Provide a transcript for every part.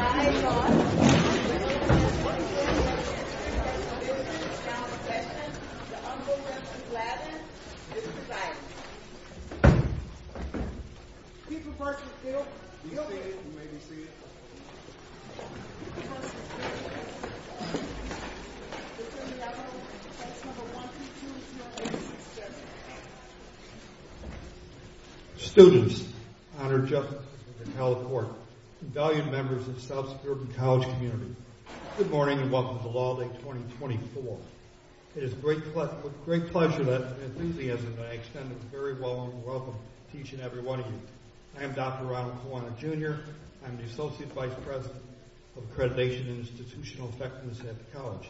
I, John, the President of the United States of America, and the President of the United States of America, and the President of the United States of America, the Honorable W. Lavin, Mr. President. Keep the person still. You may be seated. Keep the person still. Mr. President, I would like to pass No. 1 through 2 to your assistant, Mr. President. Students, honored justices, and held court, and valued members of the South Suburban College community, good morning and welcome to Law Day 2024. It is with great pleasure and enthusiasm that I extend a very warm welcome to each and every one of you. I am Dr. Ronald Kawana, Jr. I am the Associate Vice President of Accreditation and Institutional Effectiveness at the college.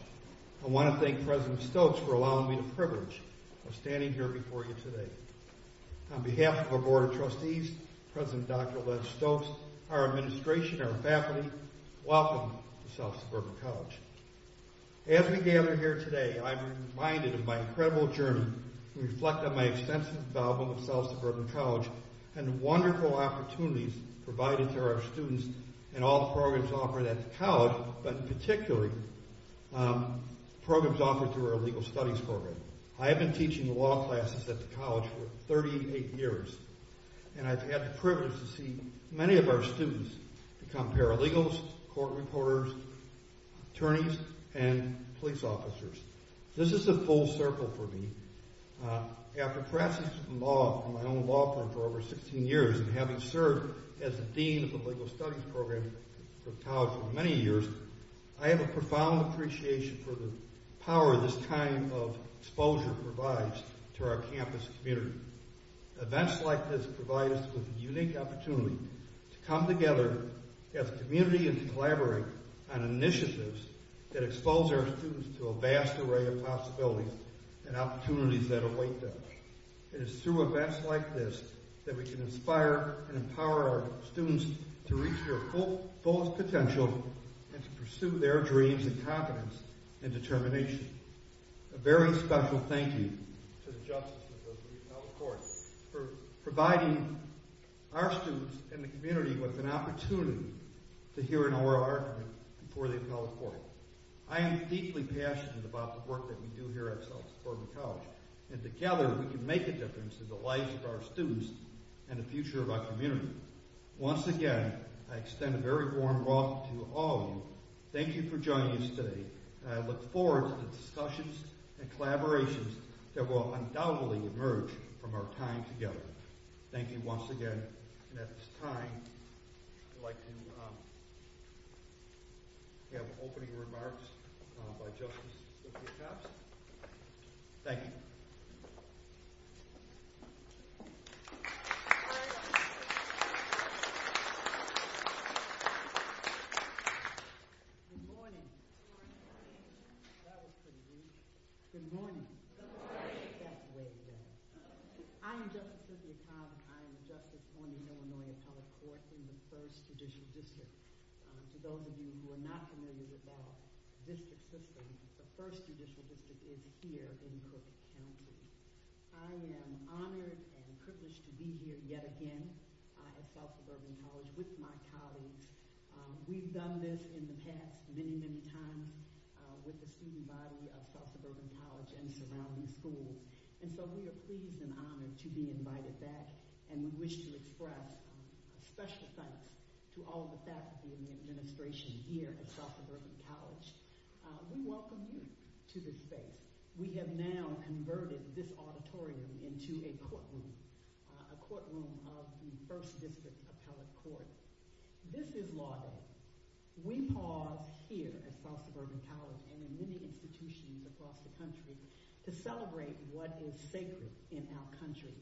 I want to thank President Stokes for allowing me the privilege of standing here before you today. On behalf of our Board of Trustees, President Dr. Les Stokes, our administration, our faculty, welcome to South Suburban College. As we gather here today, I am reminded of my incredible journey, and reflect on my extensive involvement with South Suburban College, and the wonderful opportunities provided to our students in all the programs offered at the college, but particularly programs offered through our Legal Studies program. I have been teaching law classes at the college for 38 years, and I've had the privilege to see many of our students become paralegals, court reporters, attorneys, and police officers. This is a full circle for me. After practicing law on my own law firm for over 16 years, and having served as the Dean of the Legal Studies program for the college for many years, I have a profound appreciation for the power this time of exposure provides to our campus community. Events like this provide us with a unique opportunity to come together as a community and collaborate on initiatives that expose our students to a vast array of possibilities and opportunities that await them. It is through events like this that we can inspire and empower our students to reach their fullest potential and to pursue their dreams and confidence and determination. A very special thank you to the Justice Department of the Appellate Court for providing our students and the community with an opportunity to hear an oral argument before the Appellate Court. I am deeply passionate about the work that we do here at South Suburban College, and together we can make a difference in the lives of our students and the future of our community. Once again, I extend a very warm welcome to all of you. Thank you for joining us today. I look forward to the discussions and collaborations that will undoubtedly emerge from our time together. Thank you once again. And at this time, I'd like to have opening remarks by Justice Sophia Thompson. Thank you. Good morning. That was pretty weak. Good morning. Good morning. I am Justice Sophia Thompson. I am Justice on the Illinois Appellate Court in the First Judicial District. For those of you who are not familiar with our district system, the First Judicial District is here in Crook County. I am honored and privileged to be here yet again at South Suburban College with my colleagues. We've done this in the past many, many times with the student body of South Suburban College and surrounding schools. And so we are pleased and honored to be invited back, and we wish to express our special thanks to all of the faculty and the administration here at South Suburban College. We welcome you to this space. We have now converted this auditorium into a courtroom, a courtroom of the First District's Appellate Court. This is Law Day. We pause here at South Suburban College and in many institutions across the country to celebrate what is sacred in our country,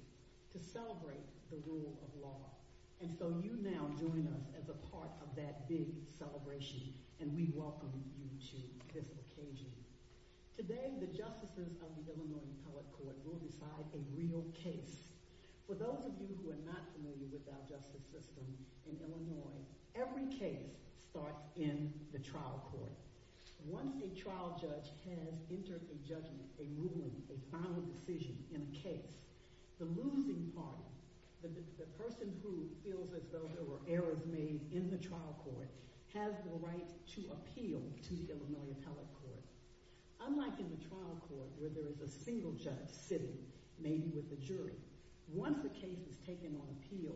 to celebrate the rule of law. And so you now join us as a part of that big celebration, and we welcome you to this occasion. Today, the justices of the Illinois Appellate Court will decide a real case. For those of you who are not familiar with our justice system in Illinois, every case starts in the trial court. Once a trial judge has entered a judgment, a ruling, a final decision in a case, the losing party, the person who feels as though there were errors made in the trial court, has the right to appeal to the Illinois Appellate Court. Unlike in the trial court where there is a single judge sitting, maybe with a jury, once a case is taken on appeal,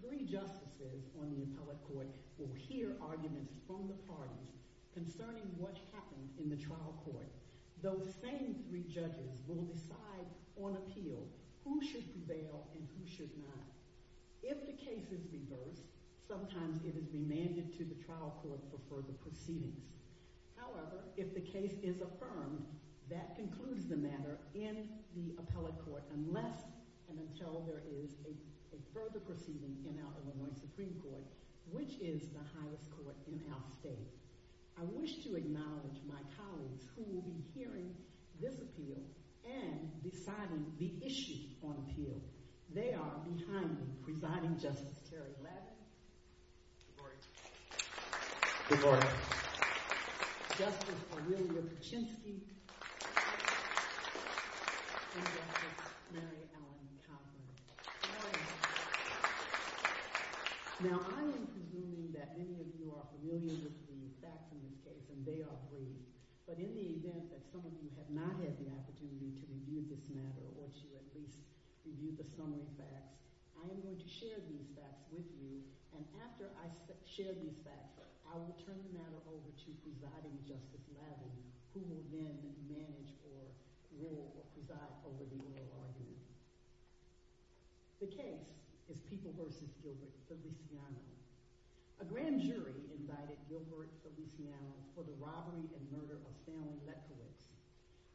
three justices on the appellate court will hear arguments from the parties concerning what happened in the trial court. Those same three judges will decide on appeal who should prevail and who should not. If the case is reversed, sometimes it is demanded to the trial court for further proceedings. However, if the case is affirmed, that concludes the matter in the appellate court unless and until there is a further proceeding in our Illinois Supreme Court, which is the highest court in our state. I wish to acknowledge my colleagues who will be hearing this appeal and deciding the issues on appeal. They are behind me, Presiding Justice Terry Ladd. Good morning. Good morning. Justice Aurelia Kaczynski and Justice Mary Allen Conley. Good morning. Now, I am convinced that many of you are familiar with the facts in this case, and they are brief. But in the event that some of you have not had the opportunity to review this matter, or to at least review the summary facts, I am going to share these facts with you. And after I share these facts, I will turn the matter over to Presiding Justice Ladd, who will then manage or rule or preside over the oral argument. The case is People v. Gilbert Feliciano. A grand jury invited Gilbert Feliciano for the robbery and murder of Stanley Beckowitz.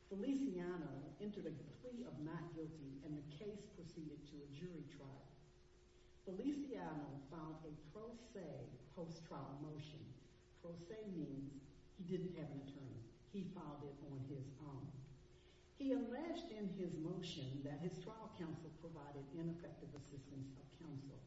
Feliciano entered a decree of not guilty, and the case proceeded to a jury trial. Feliciano filed a pro se post-trial motion. Pro se means he didn't have an attorney. He filed it on his own. He alleged in his motion that his trial counsel provided ineffective assistance for counsel.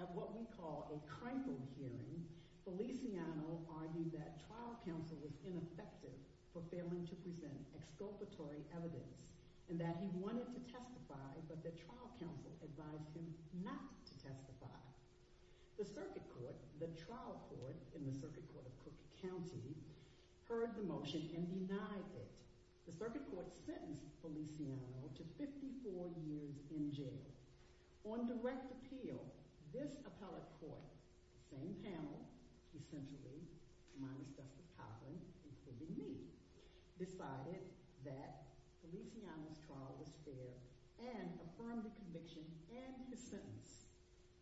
At what we call a tranquil hearing, Feliciano argued that trial counsel was ineffective for failing to present exculpatory evidence, and that he wanted to testify, but that trial counsel advised him not to testify. The circuit court, the trial court in the Circuit Court of Cook County, heard the motion and denied it. The circuit court sentenced Feliciano to 54 years in jail. On direct appeal, this appellate court, same panel, essentially, my respective colleagues, including me, decided that Feliciano's trial was fair and affirmed the conviction and the sentence.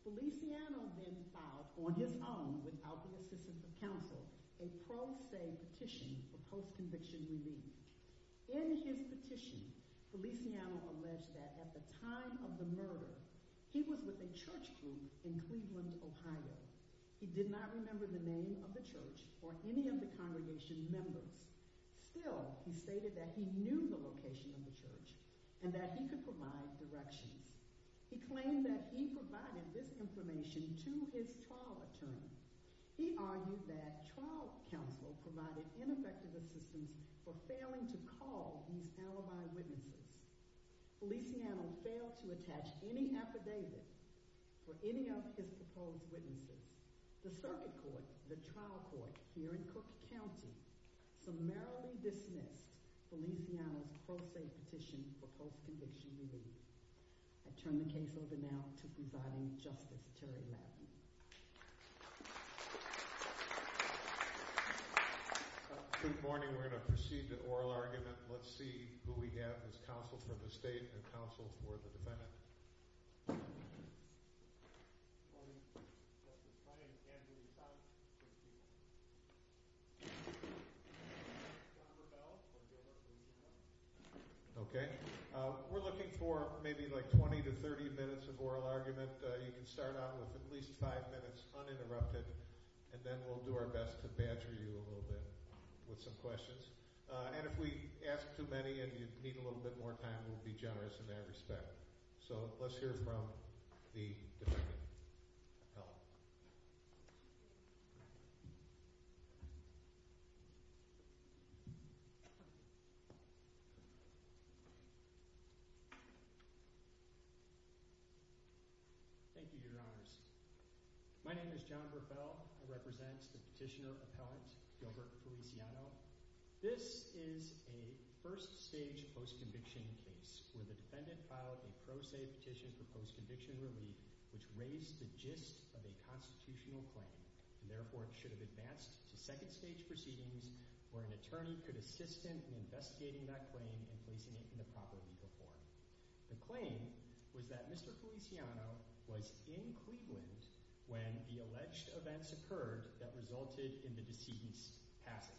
Feliciano then filed, on his own, without the assistance of counsel, a pro se petition for post-conviction relief. In his petition, Feliciano alleged that at the time of the murder, he was with a church group in Cleveland, Ohio. He did not remember the name of the church or any of the congregation members. Still, he stated that he knew the location of the church and that he could provide direction. He claimed that he provided this information to his trial attorney. He argued that trial counsel provided ineffective assistance for failing to call these alibi witnesses. Feliciano failed to attach any affidavit for any of his proposed witnesses. The circuit court, the trial court here in Cook County, summarily dismissed Feliciano's pro se petition for post-conviction relief. I turn the case over now to Providing Justice, Terry Levin. Good morning. We're going to proceed to oral argument. Let's see who we have as counsel for the state and counsel for the defendant. Okay. We're looking for maybe like 20 to 30 minutes of oral argument. You can start off with at least five minutes uninterrupted, and then we'll do our best to badger you a little bit with some questions. And if we ask too many and you need a little bit more time, we'll be generous in that respect. So let's hear from the defendant. Thank you, Your Honors. My name is John Verfell. I represent the petitioner appellant, Gilbert Feliciano. This is a first-stage post-conviction case where the defendant filed a pro se petition for post-conviction relief, which raised the gist of a constitutional claim. And therefore, it should have advanced to second-stage proceedings where an attorney could assist him in investigating that claim and placing it in the property before him. The claim was that Mr. Feliciano was in Cleveland when the alleged events occurred that resulted in the decedent's passing.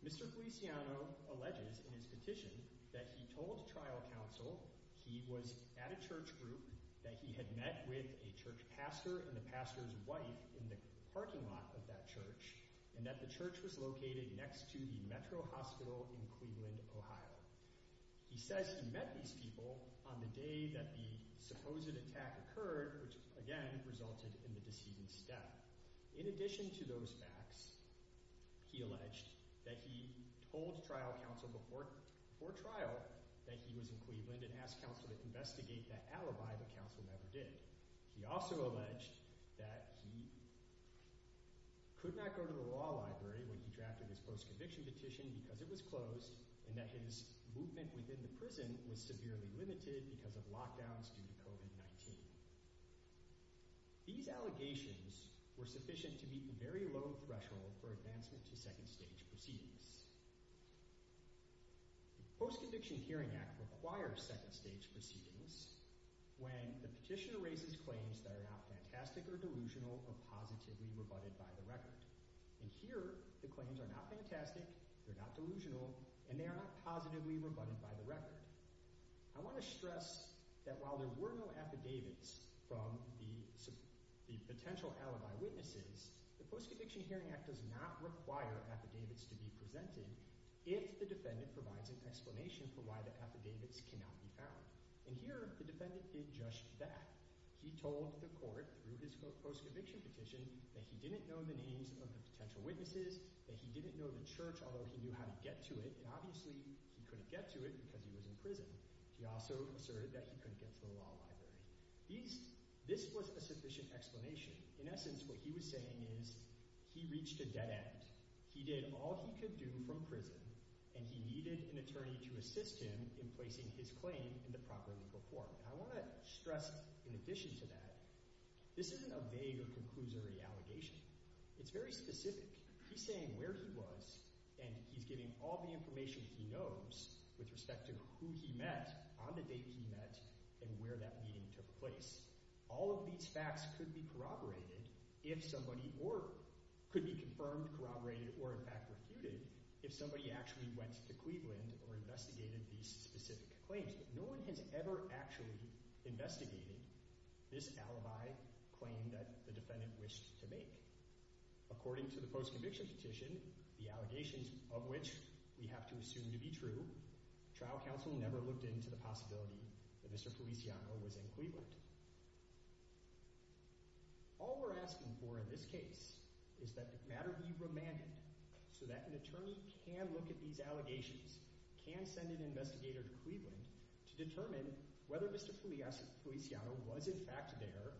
Mr. Feliciano alleges in his petition that he told trial counsel he was at a church group, that he had met with a church pastor and the pastor's wife in the parking lot of that church, and that the church was located next to the Metro Hospital in Cleveland, Ohio. He says he met these people on the day that the supposed attack occurred, which again resulted in the decedent's death. In addition to those facts, he alleged that he told trial counsel before trial that he was in Cleveland and asked counsel to investigate that alibi, but counsel never did. He also alleged that he could not go to the law library when he drafted his post-conviction petition because it was closed and that his movement within the prison was severely limited because of lockdowns due to COVID-19. These allegations were sufficient to meet the very low threshold for advancement to second-stage proceedings. The Post-Conviction Hearing Act requires second-stage proceedings when the petitioner raises claims that are not fantastic or delusional or positively rebutted by the record. And here, the claims are not fantastic, they're not delusional, and they are not positively rebutted by the record. I want to stress that while there were no affidavits from the potential alibi witnesses, the Post-Conviction Hearing Act does not require affidavits to be presented if the defendant provides an explanation for why the affidavits cannot be found. And here, the defendant did just that. He told the court through his post-conviction petition that he didn't know the names of the potential witnesses, that he didn't know the church, although he knew how to get to it. And obviously, he couldn't get to it because he was in prison. He also asserted that he couldn't go to the law library. This was a sufficient explanation. In essence, what he was saying is he reached a dead end. He did all he could do from prison, and he needed an attorney to assist him in placing his claim in the proper legal court. I want to stress, in addition to that, this isn't a vague or conclusory allegation. It's very specific. He's saying where he was, and he's giving all the information he knows with respect to who he met, on the date he met, and where that meeting took place. All of these facts could be corroborated if somebody – or could be confirmed, corroborated, or, in fact, refuted if somebody actually went to Cleveland or investigated these specific claims. I think that no one has ever actually investigated this alibi claim that the defendant wished to make. According to the post-conviction petition, the allegations of which we have to assume to be true, trial counsel never looked into the possibility that Mr. Feliciano was in Cleveland. All we're asking for in this case is that the matter be remanded so that an attorney can look at these allegations, can send an investigator to Cleveland, to determine whether Mr. Feliciano was, in fact, there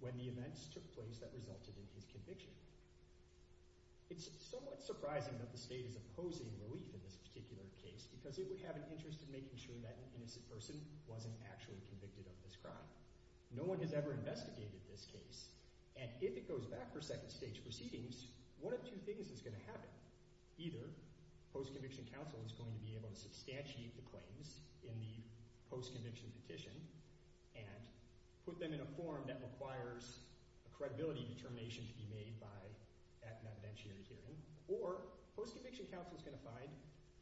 when the events took place that resulted in his conviction. It's somewhat surprising that the state is opposing relief in this particular case because it would have an interest in making sure that an innocent person wasn't actually convicted of this crime. No one has ever investigated this case, and if it goes back for second-stage proceedings, one of two things is going to happen. Either post-conviction counsel is going to be able to substantiate the claims in the post-conviction petition and put them in a form that requires a credibility determination to be made by an evidentiary hearing, or post-conviction counsel is going to find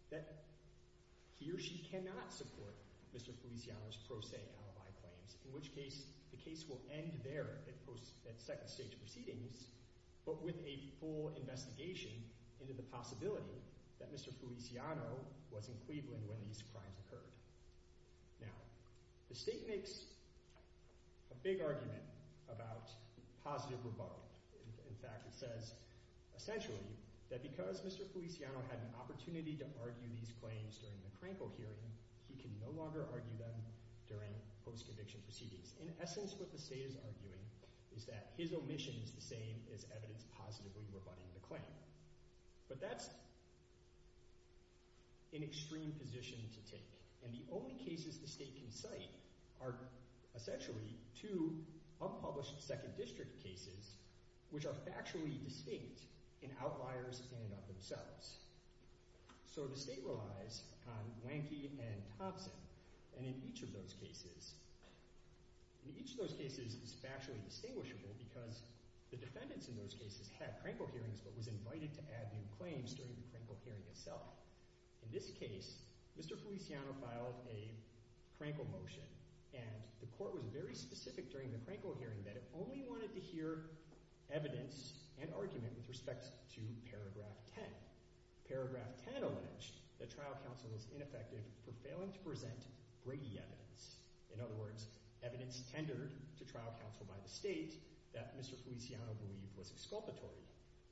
that he or she cannot support Mr. Feliciano's pro se alibi claims, in which case the case will end there at second-stage proceedings, but with a full investigation into the possibility that Mr. Feliciano was in Cleveland when these crimes occurred. Now, the state makes a big argument about positive rebuttal. In fact, it says, essentially, that because Mr. Feliciano had an opportunity to argue these claims during the Krankel hearing, he can no longer argue them during post-conviction proceedings. In essence, what the state is arguing is that his omission is the same as evidence positively rebutting the claim, but that's an extreme position to take, and the only cases the state can cite are, essentially, two unpublished second district cases which are factually distinct and outliers in and of themselves. So the state relies on Lanky and Thompson, and in each of those cases, it's factually distinguishable because the defendants in those cases had Krankel hearings but was invited to add new claims during the Krankel hearing itself. In this case, Mr. Feliciano filed a Krankel motion, and the court was very specific during the Krankel hearing that it only wanted to hear evidence and argument with respect to paragraph 10. Paragraph 10 alleged that trial counsel was ineffective for failing to present Brady evidence, in other words, evidence tendered to trial counsel by the state that Mr. Feliciano believed was exculpatory.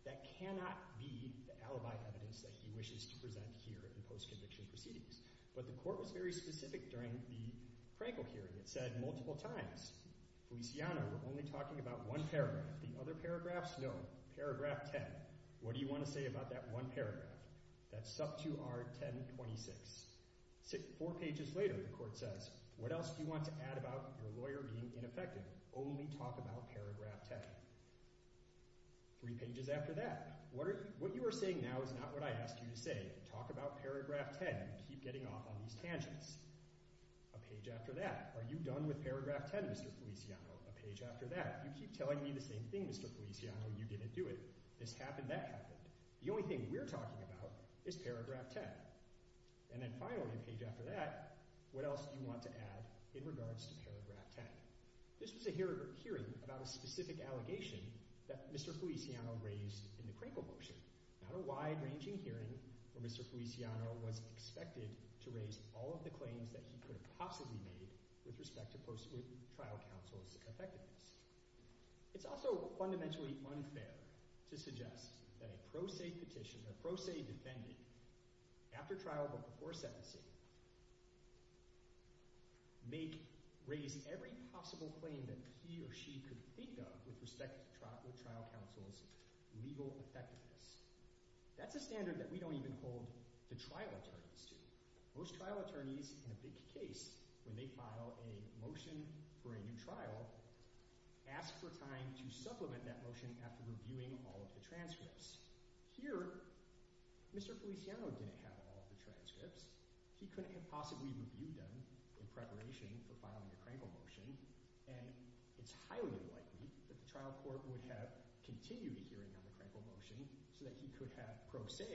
That cannot be the alibi evidence that he wishes to present here in post-conviction proceedings, but the court was very specific during the Krankel hearing. It said multiple times, Feliciano, we're only talking about one paragraph. The other paragraphs, no. Paragraph 10, what do you want to say about that one paragraph? That's sub 2R1026. Four pages later, the court says, what else do you want to add about your lawyer being ineffective? Only talk about paragraph 10. Three pages after that, what you are saying now is not what I asked you to say. Talk about paragraph 10. You keep getting off on these tangents. A page after that, are you done with paragraph 10, Mr. Feliciano? A page after that, you keep telling me the same thing, Mr. Feliciano, and you didn't do it. This happened, that happened. The only thing we're talking about is paragraph 10. And then finally, a page after that, what else do you want to add in regards to paragraph 10? This was a hearing about a specific allegation that Mr. Feliciano raised in the Krankel portion. Not a wide-ranging hearing where Mr. Feliciano was expected to raise all of the claims that he could have possibly made with respect to post-moot trial counsel's effectiveness. It's also fundamentally unfair to suggest that a pro se petition, a pro se defendant, after trial but before sentencing, may raise every possible claim that he or she could think of with respect to trial counsel's legal effectiveness. That's a standard that we don't even hold the trial attorneys to. Most trial attorneys, in a big case, when they file a motion for a new trial, ask for time to supplement that motion after reviewing all of the transcripts. Here, Mr. Feliciano didn't have all of the transcripts. He couldn't have possibly reviewed them in preparation for filing the Krankel motion. It's highly likely that the trial court would have continued the hearing on the Krankel motion so that he could have pro se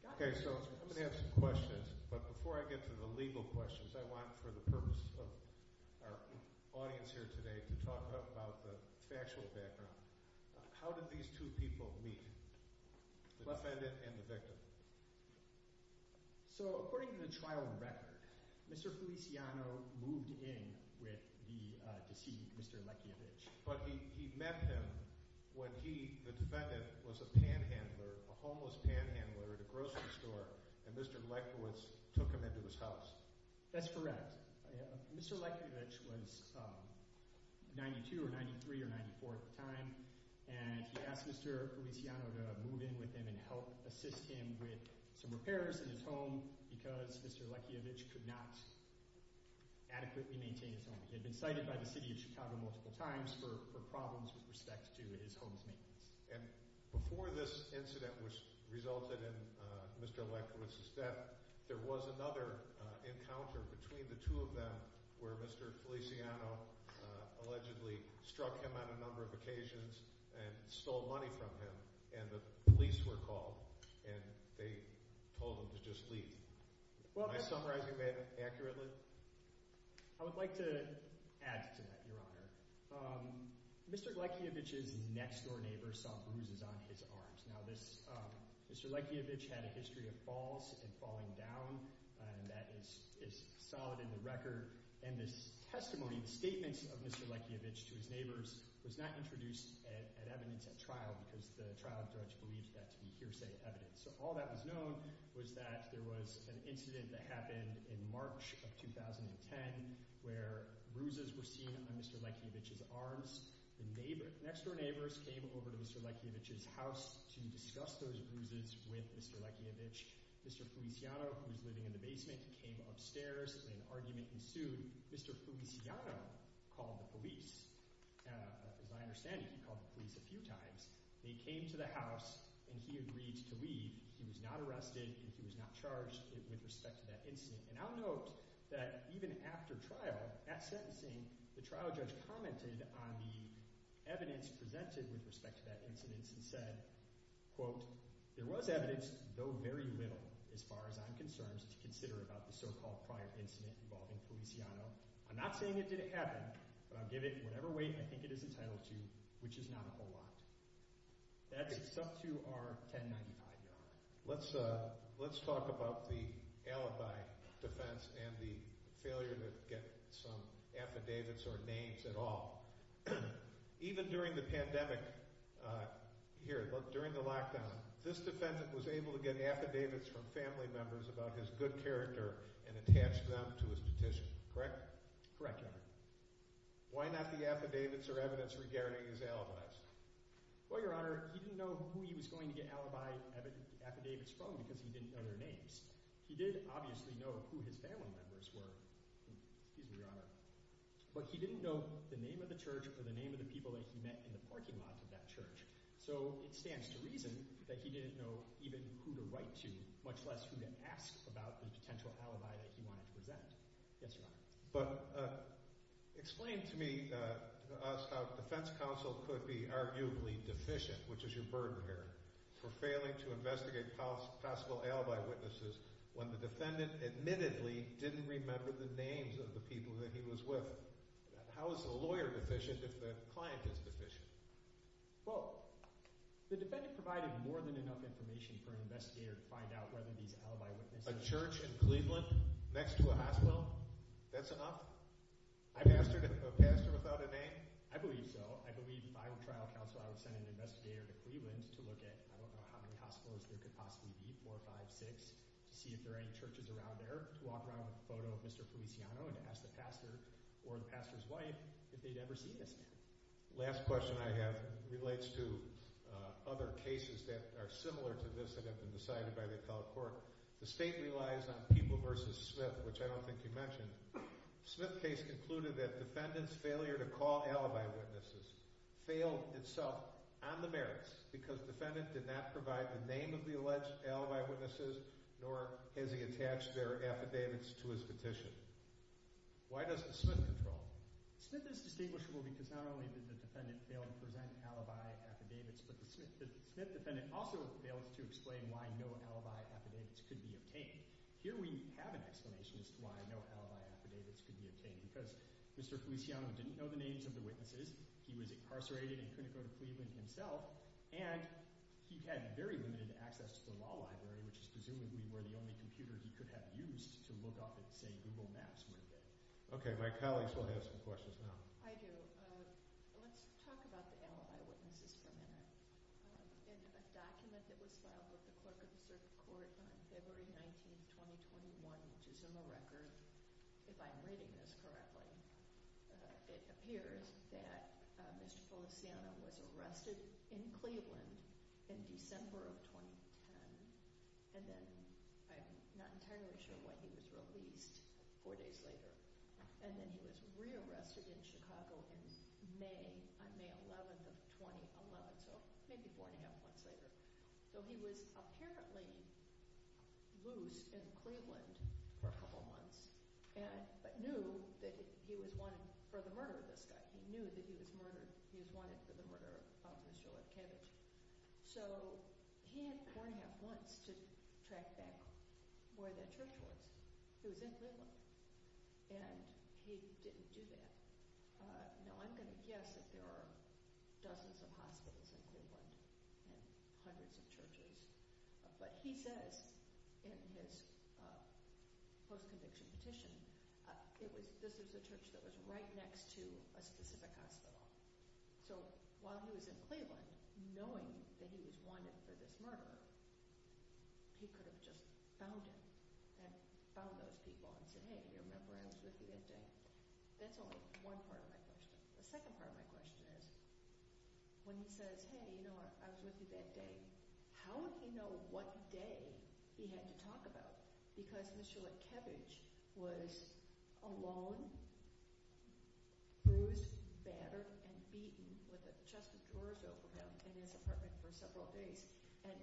gotten the transcripts. I'm going to have some questions, but before I get to the legal questions, I want, for the purpose of our audience here today, to talk about the factual background. How did these two people meet, the defendant and the victim? So, according to the trial record, Mr. Feliciano moved in to see Mr. Lechkiewicz. But he met him when he, the defendant, was a panhandler, a homeless panhandler at a grocery store, and Mr. Lechkiewicz took him into his house. That's correct. Mr. Lechkiewicz was 92 or 93 or 94 at the time, and he asked Mr. Feliciano to move in with him and help assist him with some repairs in his home, because Mr. Lechkiewicz could not adequately maintain his home. He had been cited by the city of Chicago multiple times for problems with respect to his home's maintenance. And before this incident resulted in Mr. Lechkiewicz's death, there was another encounter between the two of them where Mr. Feliciano allegedly struck him on a number of occasions and stole money from him, and the police were called, and they told him to just leave. Am I summarizing that accurately? I would like to add to that, Your Honor. Mr. Lechkiewicz's next-door neighbor saw bruises on his arms. Now, Mr. Lechkiewicz had a history of falls and falling down, and that is solid in the record, and this testimony, the statements of Mr. Lechkiewicz to his neighbors was not introduced as evidence at trial, because the trial judge believed that to be hearsay evidence. So all that was known was that there was an incident that happened in March of 2010 where bruises were seen on Mr. Lechkiewicz's arms. The next-door neighbors came over to Mr. Lechkiewicz's house to discuss those bruises with Mr. Lechkiewicz. Mr. Feliciano, who was living in the basement, came upstairs and argument ensued. Mr. Feliciano called the police. As I understand it, he called the police a few times. They came to the house, and he agreed to leave. He was not arrested, and he was not charged with respect to that incident. And I'll note that even after trial, at sentencing, the trial judge commented on the evidence presented with respect to that incident and said, quote, there was evidence, though very little, as far as I'm concerned, to consider about the so-called prior incident involving Feliciano. I'm not saying it didn't happen, but I'll give it whatever weight I think it is entitled to, which is not a whole lot. That's up to our 1095 yard line. Let's talk about the alibi defense and the failure to get some affidavits or names at all. Even during the pandemic here, during the lockdown, this defendant was able to get affidavits from family members about his good character and attach them to his petition, correct? Correct, Your Honor. Why not the affidavits or evidence regarding his alibis? Well, Your Honor, he didn't know who he was going to get alibi affidavits from because he didn't know their names. He did obviously know who his family members were, but he didn't know the name of the church or the name of the people that he met in the parking lot of that church. So it stands to reason that he didn't know even who to write to, much less who to ask about the potential alibi that he wanted to present. Yes, Your Honor. But explain to me how the defense counsel could be arguably deficient, which is your burden here, for failing to investigate possible alibi witnesses when the defendant admittedly didn't remember the names of the people that he was with. How is a lawyer deficient if the client is deficient? Well, the defendant provided more than enough information for an investigator to find out whether these alibi witnesses… A church in Cleveland next to a hospital? That's enough? A pastor without a name? I believe so. I believe if I were trial counsel, I would send an investigator to Cleveland to look at I don't know how many hospitals they could possibly meet, four, five, six, to see if there are any churches around there, to walk around with a photo of Mr. Feliciano and to ask the pastor or the pastor's wife if they'd ever seen this man. The last question I have relates to other cases that are similar to this that have been decided by the appellate court. The state relies on People v. Smith, which I don't think you mentioned. The Smith case concluded that the defendant's failure to call alibi witnesses failed itself on the merits because the defendant did not provide the name of the alleged alibi witnesses, nor has he attached their affidavits to his petition. Why doesn't Smith control? Smith is distinguishable because not only did the defendant fail to present alibi affidavits, but the Smith defendant also failed to explain why no alibi affidavits could be obtained. Here we have an explanation as to why no alibi affidavits could be obtained, because Mr. Feliciano didn't know the names of the witnesses, he was incarcerated in Kunicoda, Cleveland himself, and he had very limited access to the law library, which is presumably where the only computer he could have used to look up, say, Google Maps. Okay, my colleagues will have some questions now. I do. Let's talk about the alibi witnesses for a minute. In a document that was filed with the clerk of the circuit court on February 19, 2021, which is in the record, if I'm reading this correctly, it appears that Mr. Feliciano was arrested in Cleveland in December of 2010, and then I'm not entirely sure when he was released four days later. And then he was rearrested in Chicago on May 11 of 2011, so maybe one and a half months later. So he was apparently loose in Cleveland for a couple months, but knew that he was wanted for the murder of this guy. He knew that he was wanted for the murder of Mr. Lefkowitz. So he had going at once to track back where the church was. He was in Cleveland, and he didn't do that. Now, I'm going to guess that there are dozens of hospitals in Cleveland and hundreds of churches, but he says in his post-conviction petition, this is a church that was right next to a specific hospital. So while he was in Cleveland, knowing that he was wanted for this murder, he could have just found him and found those people and said, hey, remember, I was with you that day. That's only one part of my question. The second part of my question is when he says, hey, you know what, I was with you that day, how would he know what day he had to talk about? Because Mr. Lefkowitz was alone, bruised, battered, and beaten with a chest of drawers over him in this apartment for several days. And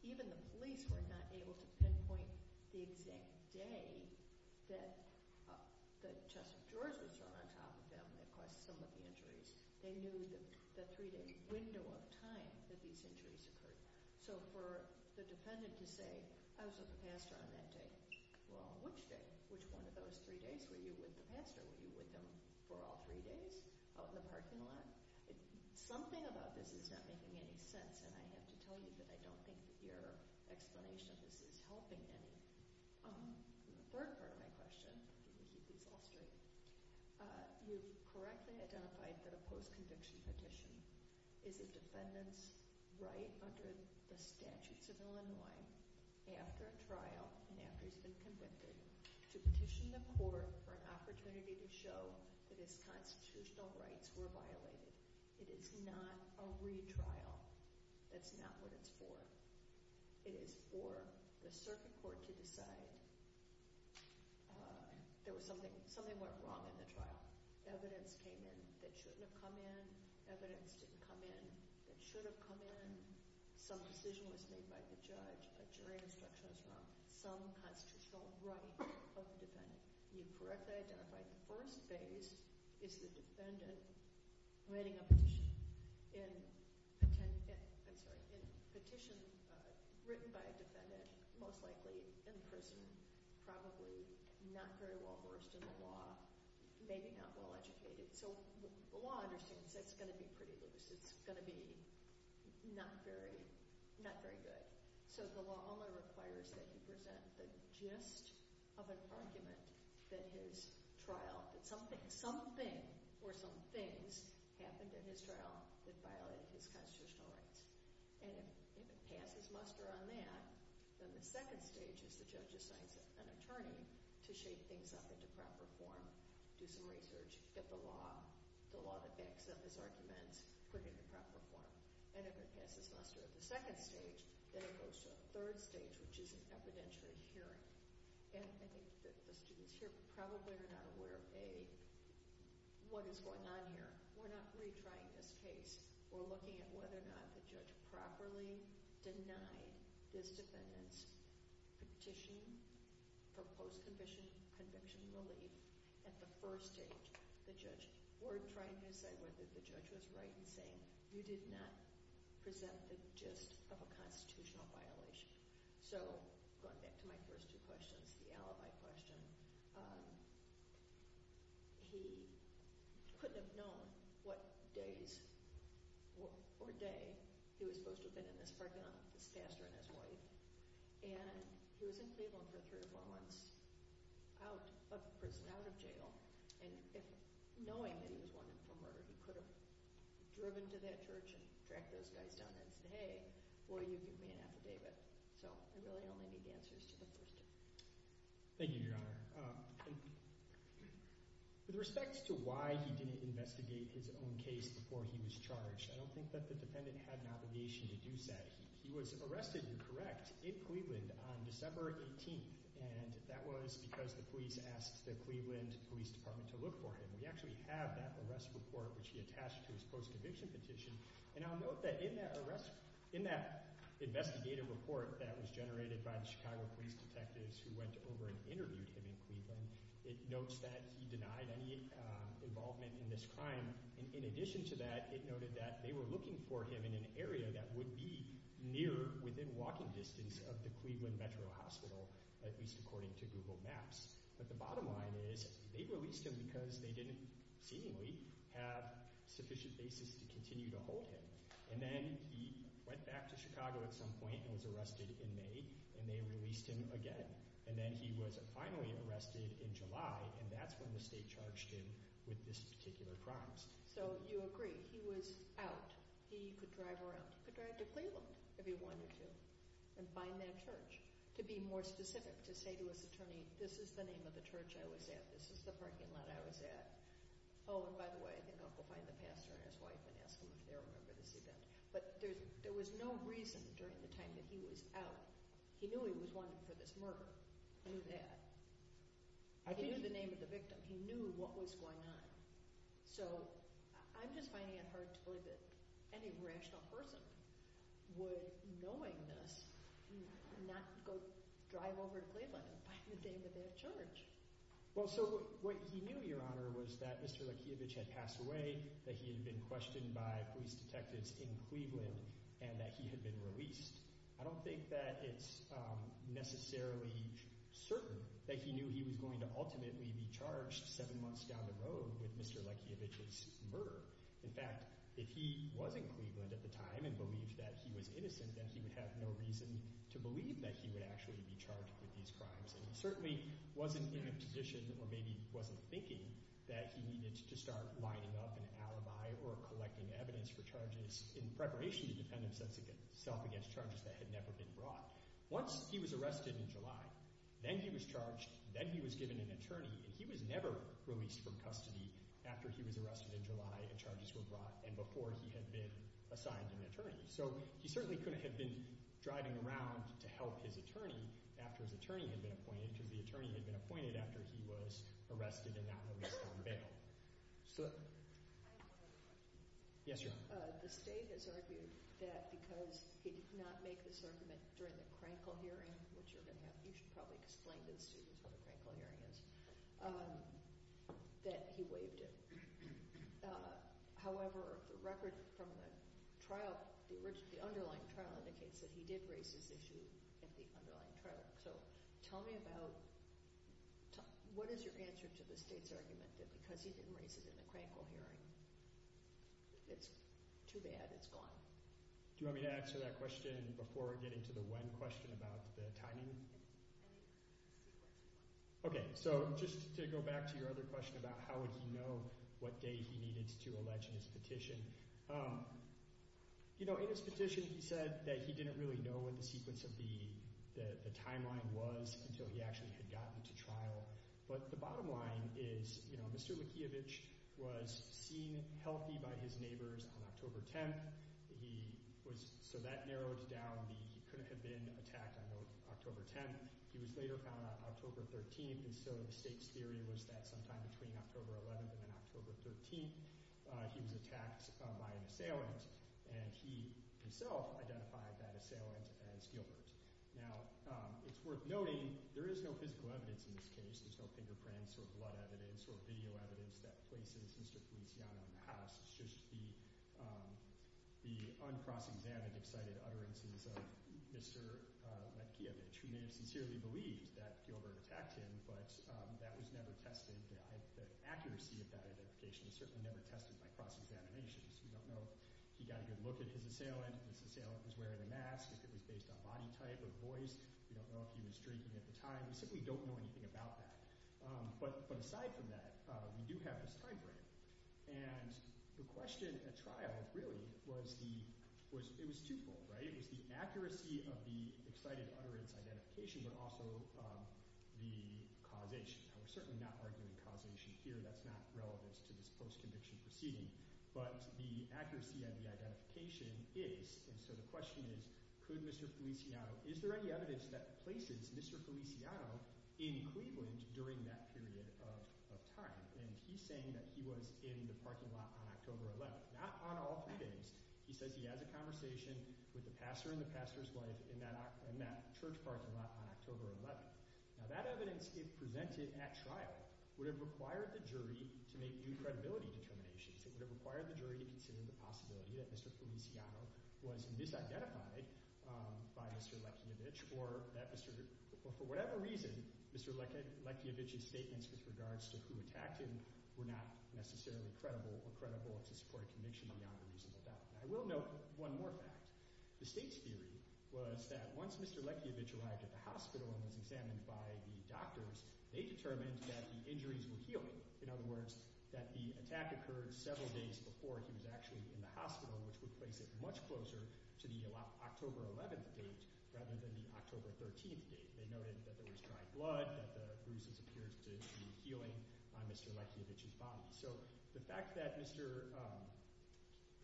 even the police were not able to pinpoint the exact day that the chest of drawers were thrown on top of him that caused some of the injuries. They knew the three-day window of time that these injuries occurred. So for the defendant to say, I was with the pastor on that day, or on which day, which one of those three days were you with the pastor? Were you with him for all three days out in the parking lot? Something about this is not making any sense. And I have to tell you that I don't think your explanation of this is helping any. The third part of my question, and maybe you can answer it, you correctly identified that a post-conviction petition is a defendant's right under the statutes of Illinois, after a trial and after he's been convicted, to petition the court for an opportunity to show that his constitutional rights were violated. It is not a retrial. That's not what it's for. It is for the circuit court to decide that something went wrong in the trial. Evidence came in that shouldn't have come in. Evidence didn't come in that should have come in. Some decision was made by the judge. A jury instruction is not some constitutional right of the defendant. You correctly identified the first phase is the defendant writing a petition in – I'm sorry – a petition written by a defendant, most likely in prison, probably not very well-versed in the law, maybe not well-educated. So the law understands that's going to be pretty loose. It's going to be not very good. So the law only requires that you present the gist of an argument that his trial – that something or some things happened in his trial that violated his constitutional rights. And he can pass his muster on that. Then the second stage is the judge assigns an attorney to shape things up into proper form, do some research, get the law, get some of his arguments put into proper form. And if it passes muster at the second stage, then it goes to the third stage, which is an evidentiary hearing. And I think the students here probably are not aware of a – what is going on here. We're not retrying this case. We're looking at whether or not the judge properly denied his defendant's petition, proposed condition, conviction relief at the first stage. We're trying to say whether the judge was right in saying you did not present the gist of a constitutional violation. So going back to my first two questions, the alibi question, he couldn't have known what days or day he was supposed to have been in this parking lot with his pastor and his wife. And he was in Cleveland for three months out of prison, out of jail. And knowing that he was one of the four murderers, he could have driven to that church and tracked those guys down and said, hey, boy, you can pay an affidavit. So I really don't know the answers to the first two. Thank you, Your Honor. With respect to why he didn't investigate his own case before he was charged, I don't think that the defendant had an obligation to do so. He was arrested and correct in Cleveland on December 18th. And that was because the police asked the Cleveland Police Department to look for him. We actually have that arrest report, which he attached to his post-conviction petition. And I'll note that in that arrest, in that investigative report that was generated by the Chicago police detectives who went over and interviewed him in Cleveland, it notes that he denied any involvement in this crime. In addition to that, it noted that they were looking for him in an area that would be near, within walking distance of the Cleveland Metro Hospital, at least according to Google Maps. But the bottom line is they released him because they didn't seemingly have sufficient basis to continue to hold him. And then he went back to Chicago at some point and was arrested in May, and they released him again. And then he was finally arrested in July, and that's when the state charged him with this particular crime. So you agree, he was out. He could drive around. He could drive to Cleveland if he wanted to and find that church. To be more specific, to say to his attorney, this is the name of the church I was at, this is the parking lot I was at. Oh, and by the way, I think I'll go find the pastor and his wife and ask them if they remember this event. But there was no reason during the time that he was out. He knew he was wanted for this murder. He knew that. He knew the name of the victim. He knew what was going on. So I'm just finding it hard to believe that any rational person would, knowing this, not go drive over to Cleveland and find the name of that church. Well, so what he knew, Your Honor, was that Mr. Lekeovic had passed away, that he had been questioned by police detectives in Cleveland, and that he had been released. I don't think that it's necessarily certain that he knew he was going to ultimately be charged seven months down the road with Mr. Lekeovic's murder. In fact, if he was in Cleveland at the time and believed that he was innocent, then he would have no reason to believe that he would actually be charged with these crimes. He certainly wasn't in a position or maybe wasn't thinking that he needed to start lining up an alibi or collecting evidence for charges in preparation to defend himself against charges that had never been brought. Once he was arrested in July, then he was charged, then he was given an attorney, and he was never released from custody after he was arrested in July and charges were brought and before he had been assigned an attorney. So he certainly couldn't have been driving around to help his attorney after his attorney had been appointed because the attorney had been appointed after he was arrested and not released on bail. Yes, ma'am? The state has argued that because he did not make this argument during the Krankel hearing, which you're going to have – you should probably explain to the students what the Krankel hearing is – that he waived it. However, the record from the trial – the underlying trial indicates that he did raise this issue at the underlying trial. So tell me about – what is your answer to the state's argument that because he didn't raise it in the Krankel hearing, it's too bad, it's gone? Do you want me to answer that question before getting to the one question about the timing? Okay, so just to go back to your other question about how would he know what day he needed to allege his petition, you know, in his petition he said that he didn't really know what the sequence of the timeline was until he actually had gotten to trial. But the bottom line is, you know, Mr. Mikheyevich was seen healthy by his neighbors on October 10th. He was – so that narrowed down the – he couldn't have been attacked on October 10th. He was later found on October 13th, and so the state's theory was that sometime between October 11th and October 13th, he was attacked by an assailant, and he himself identified that assailant as guilty. Now, it's worth noting there is no physical evidence in this case. There's no fingerprints or blood evidence or video evidence that places Mr. Kuznetsky out of the house. It's just the uncross-examined, excited utterances of Mr. Mikheyevich, who may have sincerely believed that Fielder attacked him, but that was never tested. The accuracy of that identification is certainly never tested by cross-examinations. We don't know if he got a good look at his assailant, if his assailant was wearing a mask, if it was based on body type or voice, if he was drinking at the time. We simply don't know anything about that. But aside from that, we do have this time frame, and the question at trial really was the – it was twofold, right? One is the accuracy of the excited utterance identification, but also the causation. I'm certainly not arguing causation here. That's not relevant to this post-conviction proceeding. But the accuracy of the identification is – and so the question is, could Mr. Feliciano – is there any evidence that places Mr. Feliciano in Cleveland during that period of time? And he's saying that he was in the parking lot on October 11th. Not on all three days. He says he has a conversation with the pastor and the pastor's wife in that church parking lot on October 11th. Now that evidence, if presented at trial, would have required the jury to make new credibility determinations. It would have required the jury to consider the possibility that Mr. Feliciano was misidentified by Mr. Lekiovich or that Mr. – or for whatever reason, Mr. Lekiovich's statements with regards to who attacked him were not necessarily credible or credible to support conviction beyond the reason for that. And I will note one more fact. The state's theory was that once Mr. Lekiovich arrived at the hospital and was examined by the doctors, they determined that the injuries were healed. In other words, that the attack occurred several days before he was actually in the hospital, which would place it much closer to the October 11th date rather than the October 13th date. They noted that there was dry blood, that the bruises appeared to be healing on Mr. Lekiovich's body. So the fact that Mr.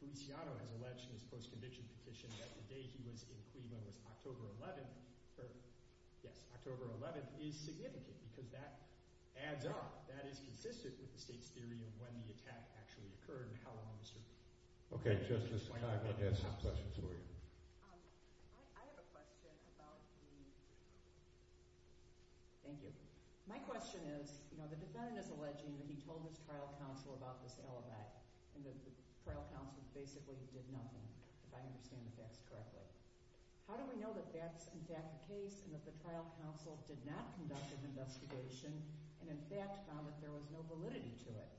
Feliciano has alleged in his post-conviction petition that the day he was in Cleveland was October 11th – yes, October 11th – is significant because that adds up. That is consistent with the state's theory of when the attack actually occurred and how long Mr. – Okay, Justice Kagan has some questions for you. I have a question about the – thank you. My question is the defendant is alleging that he told his trial counsel about this alibi and the trial counsel basically did nothing, if I understand the facts correctly. How do we know that that's in fact the case and that the trial counsel did not conduct an investigation and in fact found that there was no validity to it?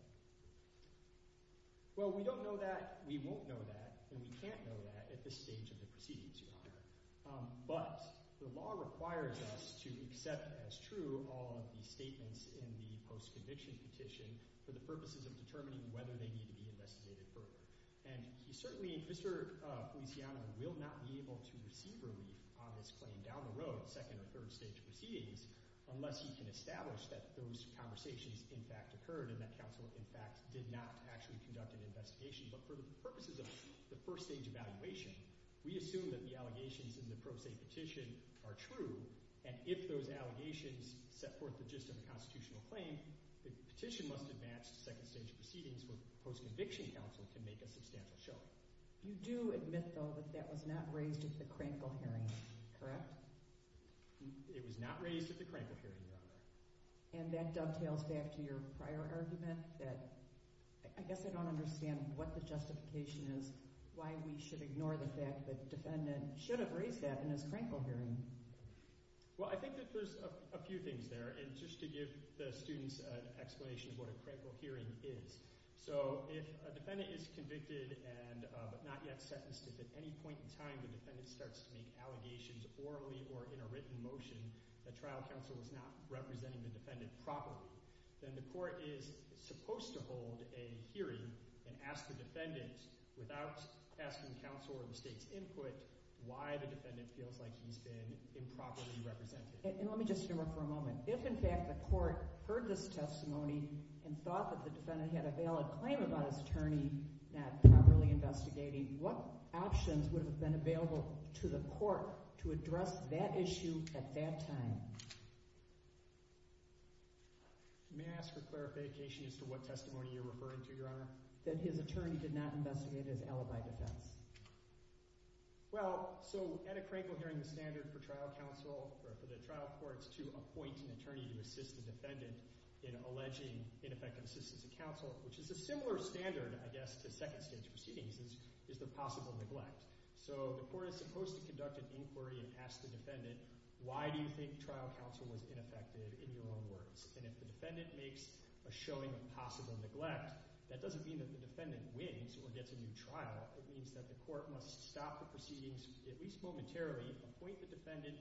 Well, we don't know that. We won't know that. And we can't know that at this stage of the proceedings. But the law requires us to accept as true all of the statements in the post-conviction petition for the purposes of determining whether they need to be investigated further. And certainly Mr. Feliciano will not be able to receive relief on this claim down the road, second or third stage proceedings, unless he can establish that those conversations in fact occurred and that counsel in fact did not actually conduct an investigation. But for the purposes of the first stage evaluation, we assume that the allegations in the pro se petition are true. And if those allegations set forth the gist of the constitutional claim, the petition must advance to second stage proceedings where the post-conviction counsel can make a substantial showing. You do admit, though, that that was not raised at the Crankle hearing, correct? It was not raised at the Crankle hearing. And that dovetails back to your prior argument that I guess I don't understand what the justification is, why we should ignore the fact that the defendant should have raised that in his Crankle hearing. Well, I think that there's a few things there. And just to give the students an explanation of what a Crankle hearing is, so if a defendant is convicted but not yet sentenced, if at any point in time the defendant starts to make allegations orally or in a written motion, a trial counsel is not representing the defendant properly, then the court is supposed to hold a hearing and ask the defendant, without asking counsel or the state's input, why the defendant feels like he's been improperly represented. And let me just interrupt for a moment. If in fact the court heard this testimony and thought that the defendant had a valid claim about his attorney not properly investigating, what options would have been available to the court to address that issue at that time? May I ask for clarification as to what testimony you're referring to, Your Honor? That his attorney did not investigate his alibi defense. Well, so at a Crankle hearing the standard for trial counsel, for the trial courts to appoint an attorney to assist the defendant in alleging ineffective assistance to counsel, which is a similar standard, I guess, to second-stage proceedings, is the possible neglect. So the court is supposed to conduct an inquiry and ask the defendant, why do you think trial counsel was ineffective in your own words? And if the defendant makes a showing of possible neglect, that doesn't mean that the defendant wins or gets a new trial. It means that the court must stop the proceedings at least momentarily, appoint the defendant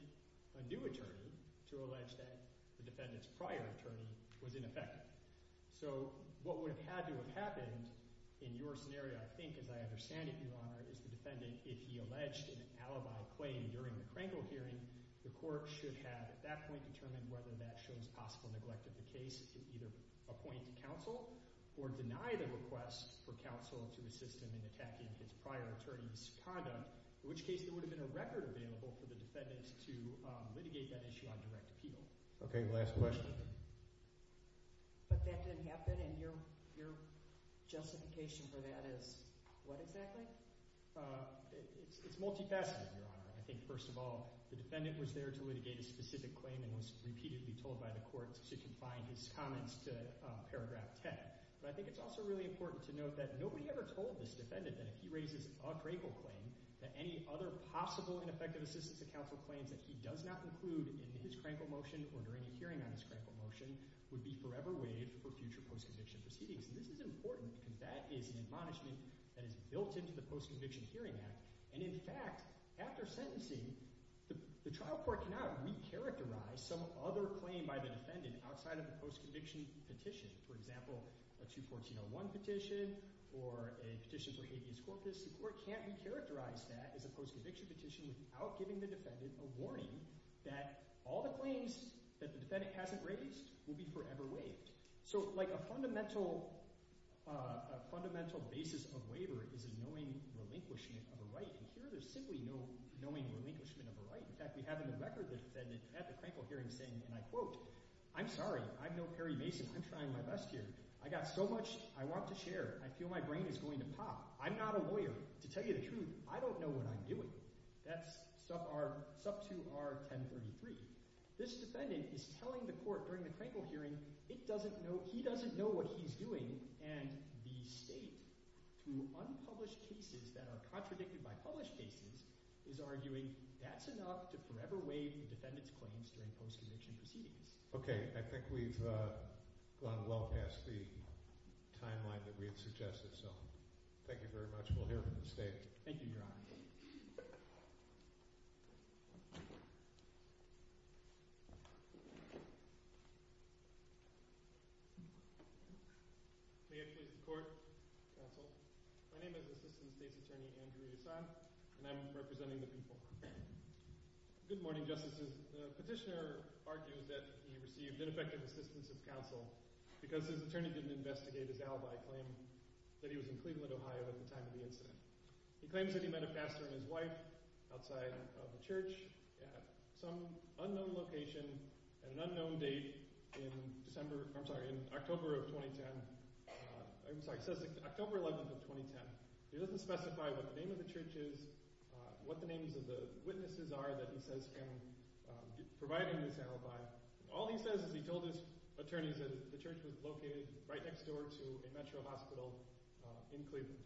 a new attorney to allege that the defendant's prior attorney was ineffective. So what would have had to have happened in your scenario, I think, as I understand it, Your Honor, is the defendant, if he alleged an alibi claim during the Crankle hearing, the court should have at that point determined whether that shows possible neglect of the case to either appoint counsel or deny the request for counsel to assist him in attacking his prior attorney's conduct, in which case there would have been a record available for the defendant to litigate that issue on direct appeal. Okay, last question. But that didn't happen, and your justification for that is what exactly? It's multifaceted, Your Honor. I think, first of all, the defendant was there to litigate a specific claim and was repeatedly told by the court to confine his comments to paragraph 10. But I think it's also really important to note that nobody ever told this defendant that if he raises a Crankle claim, that any other possible ineffective assistance to counsel claims that he does not include in his Crankle motion or during a hearing on his Crankle motion would be forever waived for future post-conviction proceedings. This is important, and that is an admonishment that is built into the Post-Conviction Hearing Act. And in fact, after sentencing, the trial court cannot recharacterize some other claim by the defendant outside of the post-conviction petition. For example, a 214-01 petition or a petition for habeas corpus, the court can't recharacterize that as a post-conviction petition without giving the defendant a warning that all the claims that the defendant hasn't raised will be forever waived. So like a fundamental basis of waiver is a knowing relinquishment of a right, and here there's simply no knowing relinquishment of a right. In fact, we have in the record the defendant at the Crankle hearing saying, and I quote, I'm sorry. I'm no Perry Mason. I'm trying my best here. I got so much I want to share. I feel my brain is going to pop. I'm not a lawyer. To tell you the truth, I don't know what I'm doing. That's sub to our 1033. This defendant is telling the court during the Crankle hearing he doesn't know what he's doing, and the state, through unpublished cases that are contradicted by published cases, is arguing that's enough to forever waive the defendant's claims during post-conviction proceedings. Okay, I think we've gone well past the timeline that we had suggested, so thank you very much. We'll hear from the state. Thank you, Your Honor. May it please the court, counsel. My name is Assistant State's Attorney Andrew Rassad, and I'm representing the people. Good morning, Justices. The petitioner argued that he received ineffective assistance of counsel because his attorney didn't investigate his alibi claim that he was in Cleveland, Ohio at the time of the incident. He claims that he met a pastor and his wife outside of the church at some unknown location at an unknown date in December – I'm sorry, in October of 2010. I'm sorry, it says October 11th of 2010. He doesn't specify what the name of the church is, what the names of the witnesses are that he says can provide him with his alibi. All he says is he told his attorneys that the church was located right next door to a metro hospital in Cleveland.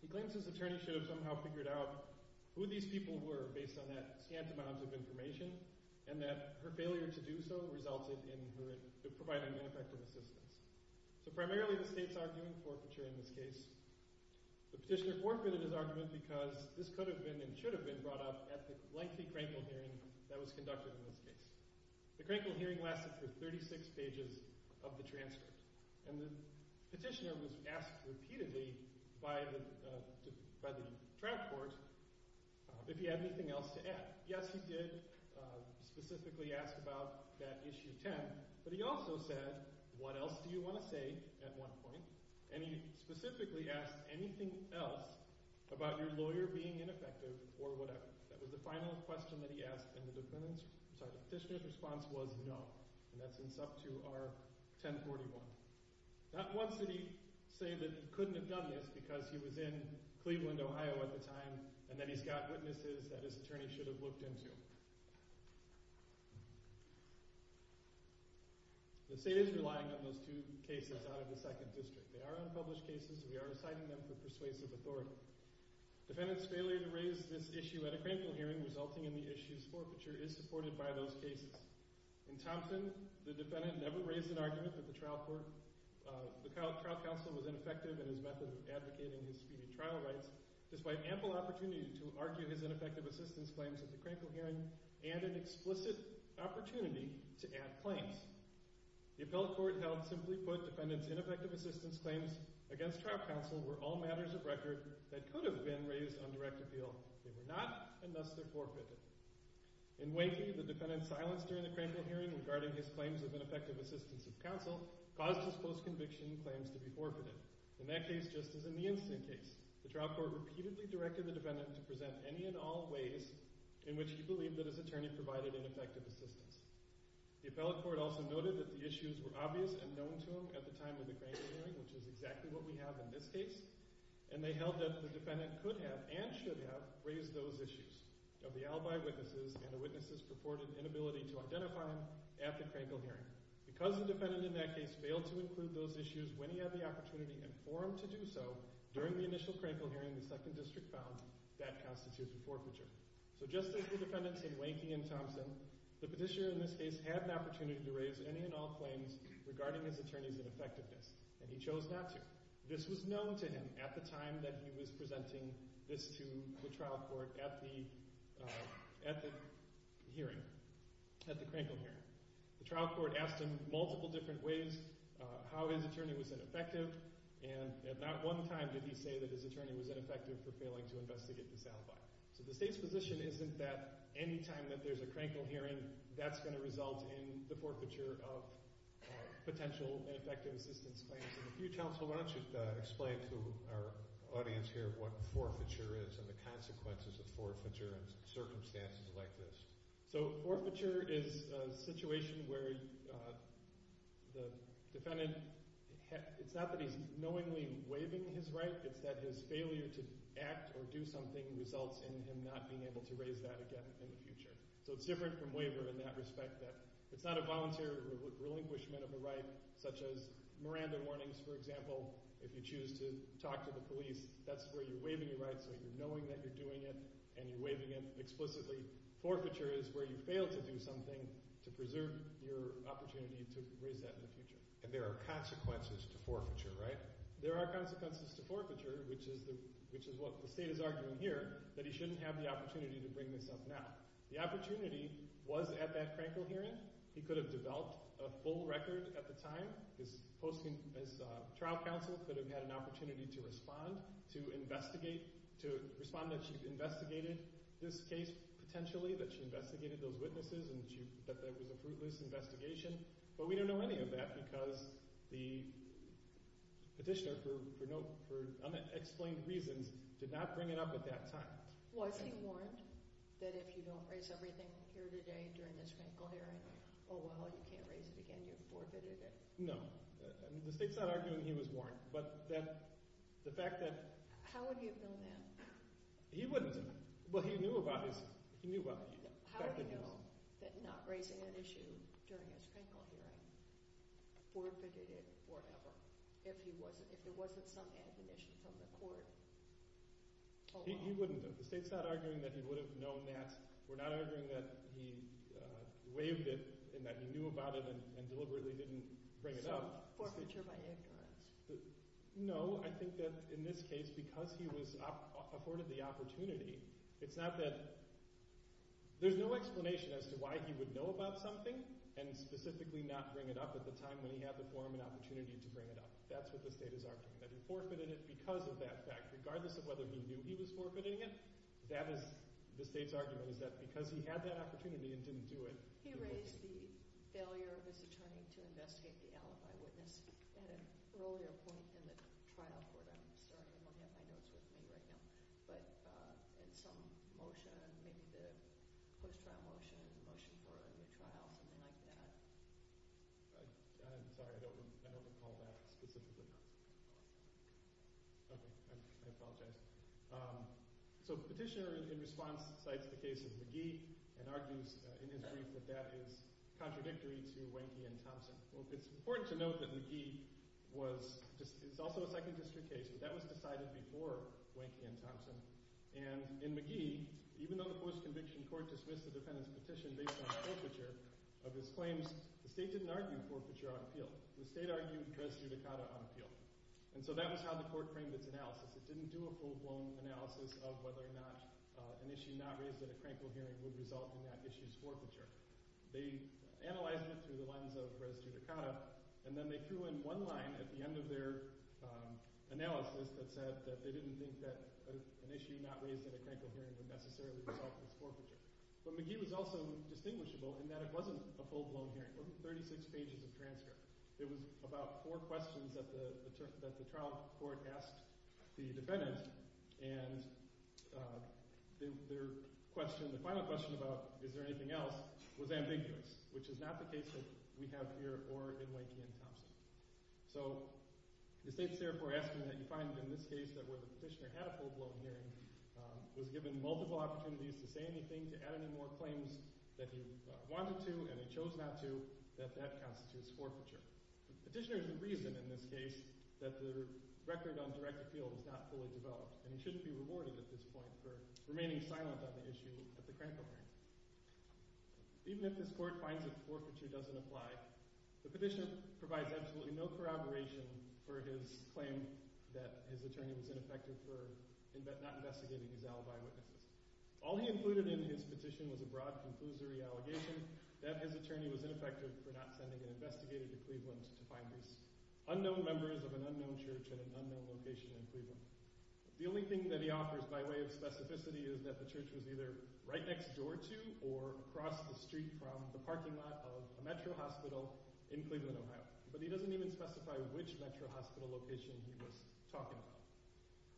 He claims his attorney should have somehow figured out who these people were based on that scant amount of information and that her failure to do so resulted in her providing ineffective assistance. So primarily the state's arguing forfeiture in this case. The petitioner forfeited his argument because this could have been and should have been brought up at the lengthy Krankel hearing that was conducted in this case. The Krankel hearing lasted for 36 pages of the transcript. And the petitioner was asked repeatedly by the transport if he had anything else to add. Yes, he did specifically ask about that Issue 10, but he also said, What else do you want to say at one point? And he specifically asked anything else about your lawyer being ineffective or whatever. That was the final question that he asked and the petitioner's response was no. And that's in sub 2 R 1041. Not once did he say that he couldn't have done this because he was in Cleveland, Ohio at the time and that he's got witnesses that his attorney should have looked into. The state is relying on those two cases out of the 2nd District. They are unpublished cases and we are citing them for persuasive authority. Defendant's failure to raise this issue at a Krankel hearing resulting in the issue's forfeiture is supported by those cases. In Thompson, the defendant never raised an argument that the trial counsel was ineffective in his method of advocating disputed trial rights, despite ample opportunity to argue his ineffective assistance claims at the Krankel hearing and an explicit opportunity to add claims. The appellate court held, simply put, defendant's ineffective assistance claims against trial counsel were all matters of record that could have been raised on direct appeal. They were not and thus they're forfeited. In Wakey, the defendant's silence during the Krankel hearing regarding his claims of ineffective assistance of counsel caused his post-conviction claims to be forfeited. In that case, just as in the instant case, the trial court repeatedly directed the defendant to present any and all ways in which he believed that his attorney provided ineffective assistance. The appellate court also noted that the issues were obvious and known to him at the time of the Krankel hearing, which is exactly what we have in this case, and they held that the defendant could have and should have raised those issues of the alibi witnesses and the witnesses' purported inability to identify him after Krankel hearing. Because the defendant in that case failed to include those issues when he had the opportunity and for him to do so during the initial Krankel hearing, the second district found that constitutes a forfeiture. So just as the defendants in Wakey and Thompson, the petitioner in this case had an opportunity to raise any and all claims regarding his attorney's ineffectiveness, and he chose not to. This was known to him at the time that he was presenting this to the trial court at the hearing, at the Krankel hearing. The trial court asked him multiple different ways how his attorney was ineffective, and at not one time did he say that his attorney was ineffective for failing to investigate the sound bite. So the state's position isn't that any time that there's a Krankel hearing, that's going to result in the forfeiture of potential ineffective assistance plans. And if you'd counsel, why don't you explain to our audience here what forfeiture is and the consequences of forfeiture in circumstances like this. So forfeiture is a situation where the defendant, it's not that he's knowingly waiving his right, it's that his failure to act or do something results in him not being able to raise that again in the future. So it's different from waiver in that respect that it's not a volunteer relinquishment of the right such as Miranda warnings, for example, if you choose to talk to the police, that's where you're waiving your right so you're knowing that you're doing it and you're waiving it explicitly. Forfeiture is where you fail to do something to preserve your opportunity to raise that in the future. And there are consequences to forfeiture, right? There are consequences to forfeiture, which is what the state is arguing here, that he shouldn't have the opportunity to bring this up now. The opportunity was at that Krankel hearing. He could have developed a full record at the time. His trial counsel could have had an opportunity to respond, to investigate, to respond that she investigated this case potentially, that she investigated those witnesses and that there was a fruitless investigation. But we don't know any of that because the petitioner, for unexplained reasons, did not bring it up at that time. Was he warned that if you don't raise everything here today during this Krankel hearing, oh well, you can't raise it again here before Thursday? No. The state's not arguing he was warned. But the fact that – How would he have known that? He wouldn't. Well, he knew about it. How would he know that not raising an issue during this Krankel hearing forfeited it or whatever if there wasn't some ambush from the court? He wouldn't. The state's not arguing that he would have known that. We're not arguing that he waived it and that he knew about it and deliberately didn't bring it up. Forfeiture by ignorance. No. I think that in this case, because he was afforded the opportunity, it's not that – there's no explanation as to why he would know about something and specifically not bring it up at the time when he had the forum and opportunity to bring it up. That's what the state is arguing, that he forfeited it because of that fact. Regardless of whether he knew he was forfeiting it, that is the state's argument, is that because he had that opportunity and didn't do it. He raised the failure of his attorney to investigate the alibi witness at an earlier point in the trial for them. So I don't know how that's related to him. But in some motion, maybe the post-trial motion or the motion for a new trial, something like that. I'm sorry. I don't recall that specifically. Okay. I apologize. So Petitioner, in response, cites the case of McGee and argues in his brief that that is contradictory to Wanky and Thompson. It's important to note that McGee was – it was also a Second District case. That was decided before Wanky and Thompson. And in McGee, even though the post-conviction court dismissed the defendant's petition based on forfeiture of his claims, the state didn't argue forfeiture on appeal. The state argued res judicata on appeal. And so that was how the court framed its analysis. It didn't do a full-blown analysis of whether or not an issue not raised at a crankle hearing would result in that issue's forfeiture. They analyzed it through the lens of res judicata, and then they threw in one line at the end of their analysis that said that they didn't think that an issue not raised at a crankle hearing would necessarily result in its forfeiture. But McGee was also distinguishable in that it wasn't a full-blown hearing. It wasn't 36 pages of transcript. It was about four questions that the trial court asked the defendant, and their question, the final question about is there anything else, was ambiguous, which is not the case that we have here or in Wanky and Thompson. So the state's therefore asking that you find in this case that where the petitioner had a full-blown hearing, was given multiple opportunities to say anything, to add any more claims that he wanted to and he chose not to, that that constitutes forfeiture. The petitioner's reason in this case that the record on direct appeal was not fully developed and he shouldn't be rewarded at this point for remaining silent on the issue at the crankle hearing. Even if this court finds that forfeiture doesn't apply, the petitioner provides absolutely no corroboration for his claim that his attorney was ineffective for not investigating his alibi. All he included in his petition was a broad conclusory allegation that his attorney was ineffective for not sending an investigator to Cleveland to find these unknown members of an unknown church at an unknown location in Cleveland. The only thing that he offers by way of specificity is that the church was either right next door to or across the street from the parking lot of a metro hospital in Cleveland, Ohio, but he doesn't even specify which metro hospital location he was talking about.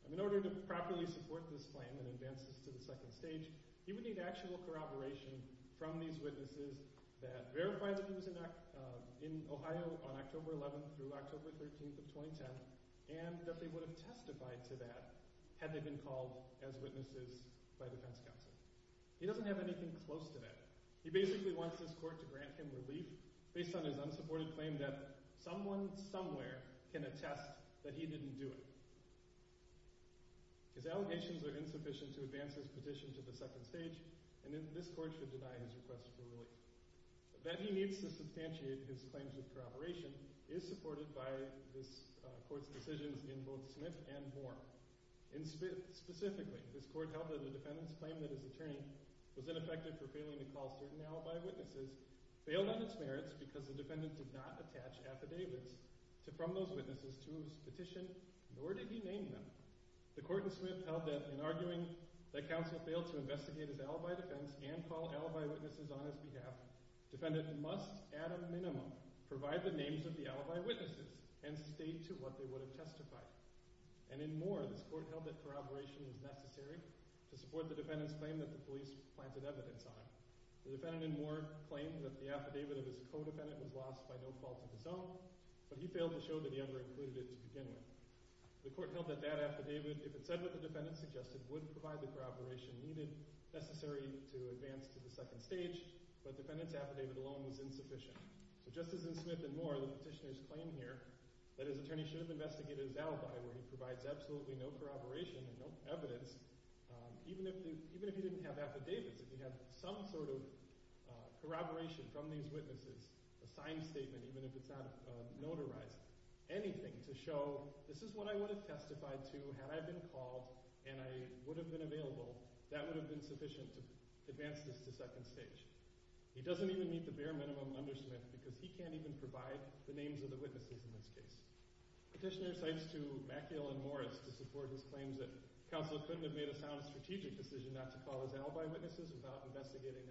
In order to properly support this claim and advance this to the second stage, he would need actual corroboration from these witnesses that verified that he was in Ohio on October 11th through October 13th of 2010 and that they would have testified to that had they been called as witnesses by defense counsel. He doesn't have anything close to that. He basically wants this court to grant him relief based on his unsupported claim that someone somewhere can attest that he didn't do it. His allegations are insufficient to advance his petition to the second stage and this court should deny his request for relief. That he needs to substantiate his claims of corroboration is supported by this court's decisions in both Smith and Moore. Specifically, this court held that the defendant's claim that his attorney was ineffective for failing to call certain alibi witnesses failed on its merits because the defendant did not attach affidavits from those witnesses to his petition, nor did he name them. The court in Smith held that in arguing that counsel failed to investigate his alibi defense and call alibi witnesses on his behalf, the defendant must at a minimum provide the names of the alibi witnesses and state to what they would have testified. And in Moore, this court held that corroboration was necessary to support the defendant's claim that the police planted evidence on him. The defendant in Moore claimed that the affidavit of his co-defendant was lost by no fault of his own, but he failed to show that he ever included it to begin with. The court held that that affidavit, if it said what the defendant suggested, would provide the corroboration needed necessary to advance to the second stage, but the defendant's affidavit alone was insufficient. But just as in Smith and Moore, the petitioner's claim here that his attorney should have investigated his alibi where he provides absolutely no corroboration and no evidence, even if he didn't have affidavits, if he had some sort of corroboration from these witnesses, a signed statement even if it's not notarized, anything to show this is what I would have testified to had I been called and I would have been available, that would have been sufficient to advance this to second stage. He doesn't even meet the bare minimum under Smith because he can't even provide the names of the witnesses in this case. Petitioner cites to McEil and Morris to support his claims that counsel couldn't have made a sound strategic decision not to call his alibi witnesses without investigating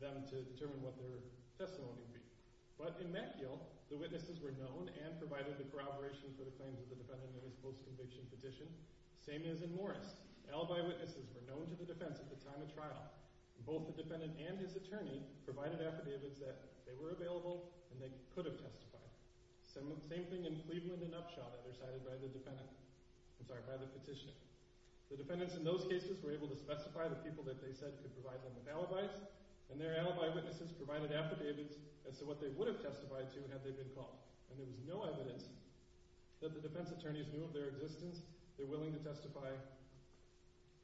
them to determine what their testimony would be. But in McEil, the witnesses were known and provided the corroboration for the claims of the defendant in his post-conviction petition. Same as in Morris. Alibi witnesses were known to the defense at the time of trial. Both the defendant and his attorney provided affidavits that they were available and they could have testified. Same thing in Cleveland and Upshaw that were cited by the petitioner. The defendants in those cases were able to specify the people that they said could provide them with alibis, and their alibi witnesses provided affidavits as to what they would have testified to had they been called. And there was no evidence that the defense attorneys knew of their existence and their willingness to testify.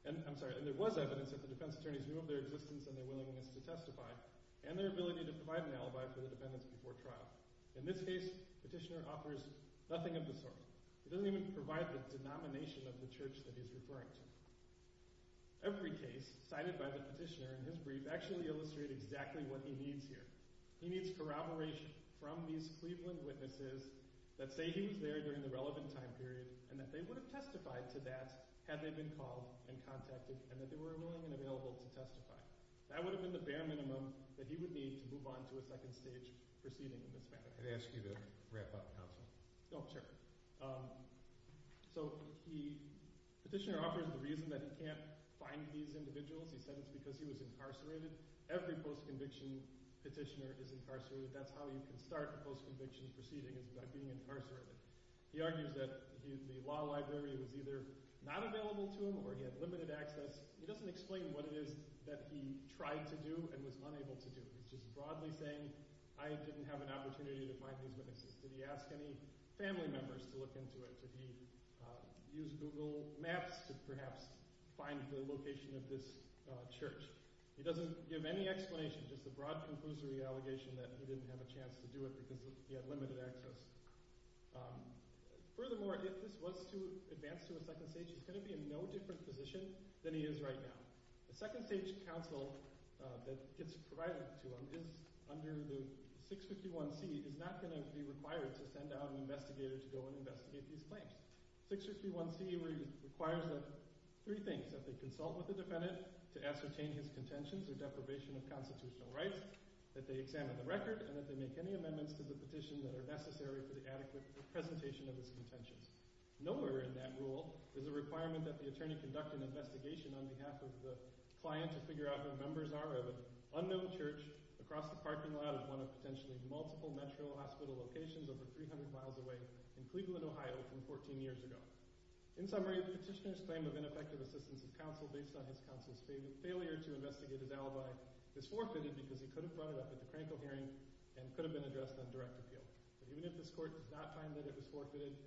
I'm sorry, and there was evidence that the defense attorneys knew of their existence and their willingness to testify and their ability to provide an alibi for the defendants before trial. In this case, petitioner offers nothing of the sort. He doesn't even provide the denomination of the church that he's referring to. Every case cited by the petitioner in his brief actually illustrates exactly what he needs here. He needs corroboration from these Cleveland witnesses that say he was there during the relevant time period and that they would have testified to that had they been called and contacted and that they were willing and available to testify. That would have been the bare minimum that he would need to move on to a second stage proceeding in this matter. I'd ask you to wrap up, Counsel. No, I'm sure. So the petitioner offers the reason that he can't find these individuals. He said it's because he was incarcerated. Every post-conviction petitioner is incarcerated. That's how you can start a post-conviction proceeding is by being incarcerated. He argues that the law library was either not available to him or he had limited access. He doesn't explain what it is that he tried to do and was unable to do, which is broadly saying I didn't have an opportunity to find these witnesses. Did he ask any family members to look into it? Did he use Google Maps to perhaps find the location of this church? He doesn't give any explanation. Just a broad conclusory allegation that he didn't have a chance to do it because he had limited access. Furthermore, if this was to advance to a second stage, he's going to be in no different position than he is right now. The second stage counsel that gets provided to him is under the 651C. He is not going to be required to send out an investigator to go and investigate these claims. 651C requires three things, that they consult with the defendant to ascertain his contentions or deprivation of constitutional rights, that they examine the record, and that they make any amendments to the petition that are necessary for the adequate representation of his contentions. Nowhere in that rule is a requirement that the attorney conduct an investigation on behalf of the client to figure out who the members are of an unknown church across the parking lot of one of potentially multiple metro hospital locations over 300 miles away in Cleveland, Ohio, from 14 years ago. In summary, the petitioner's claim of ineffective assistance of counsel based on his counsel's failure to investigate his alibi is forfeited because he could have brought it up at the Franco hearing and could have been addressed on direct appeal. Even if this court does not find that it is forfeited,